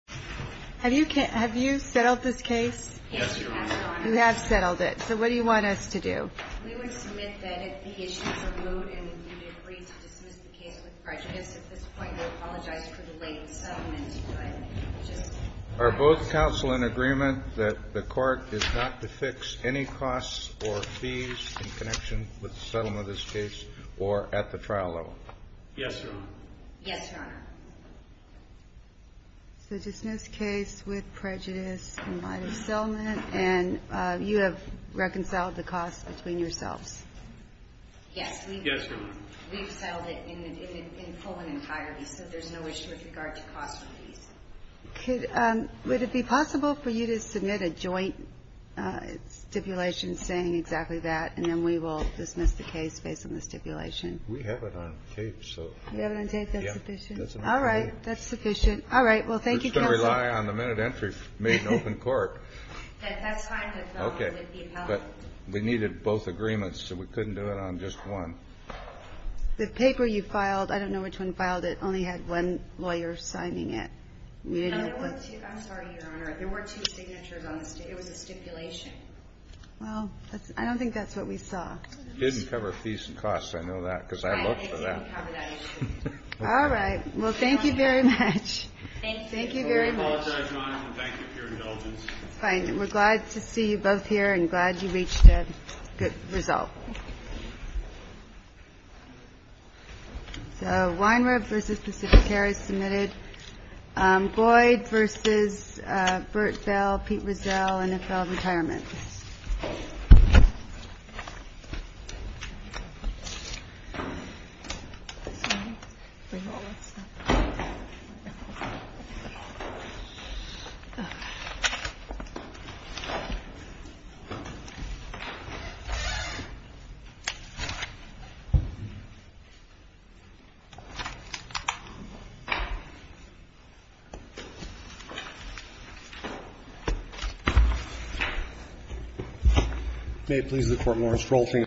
Have you settled this case? Yes, Your Honor. You have settled it. So what do you want us to do? We would submit that if the issue is removed and you agree to dismiss the case with prejudice at this point, we apologize for the late settlement. Are both counsel in agreement that the court is not to fix any costs or fees in connection with the settlement of this case or at the trial level? Yes, Your Honor. Yes, Your Honor. So dismiss the case with prejudice in light of settlement, and you have reconciled the costs between yourselves? Yes. Yes, Your Honor. We've settled it in full and entirely, so there's no issue with regard to costs or fees. Would it be possible for you to submit a joint stipulation saying exactly that, and then we will dismiss the case based on the stipulation? We have it on tape. You have it on tape? That's sufficient? All right. That's sufficient. All right. Well, thank you, counsel. We're just going to rely on the minute entry made in open court. That's fine. Okay. But we needed both agreements, so we couldn't do it on just one. The paper you filed, I don't know which one filed it, only had one lawyer signing it. No, there were two. I'm sorry, Your Honor. There were two signatures on this. It was a stipulation. Well, I don't think that's what we saw. It didn't cover fees and costs. I know that because I looked for that. It didn't cover that issue. All right. Well, thank you very much. Thank you. Thank you very much. I apologize, Your Honor, and thank you for your indulgence. Fine. We're glad to see you both here and glad you reached a good result. So Weinreb v. Pacificare is submitted. Goyd v. Burt Bell, Pete Rizal, NFL Retirement. May it please the Court, Morris. Role change.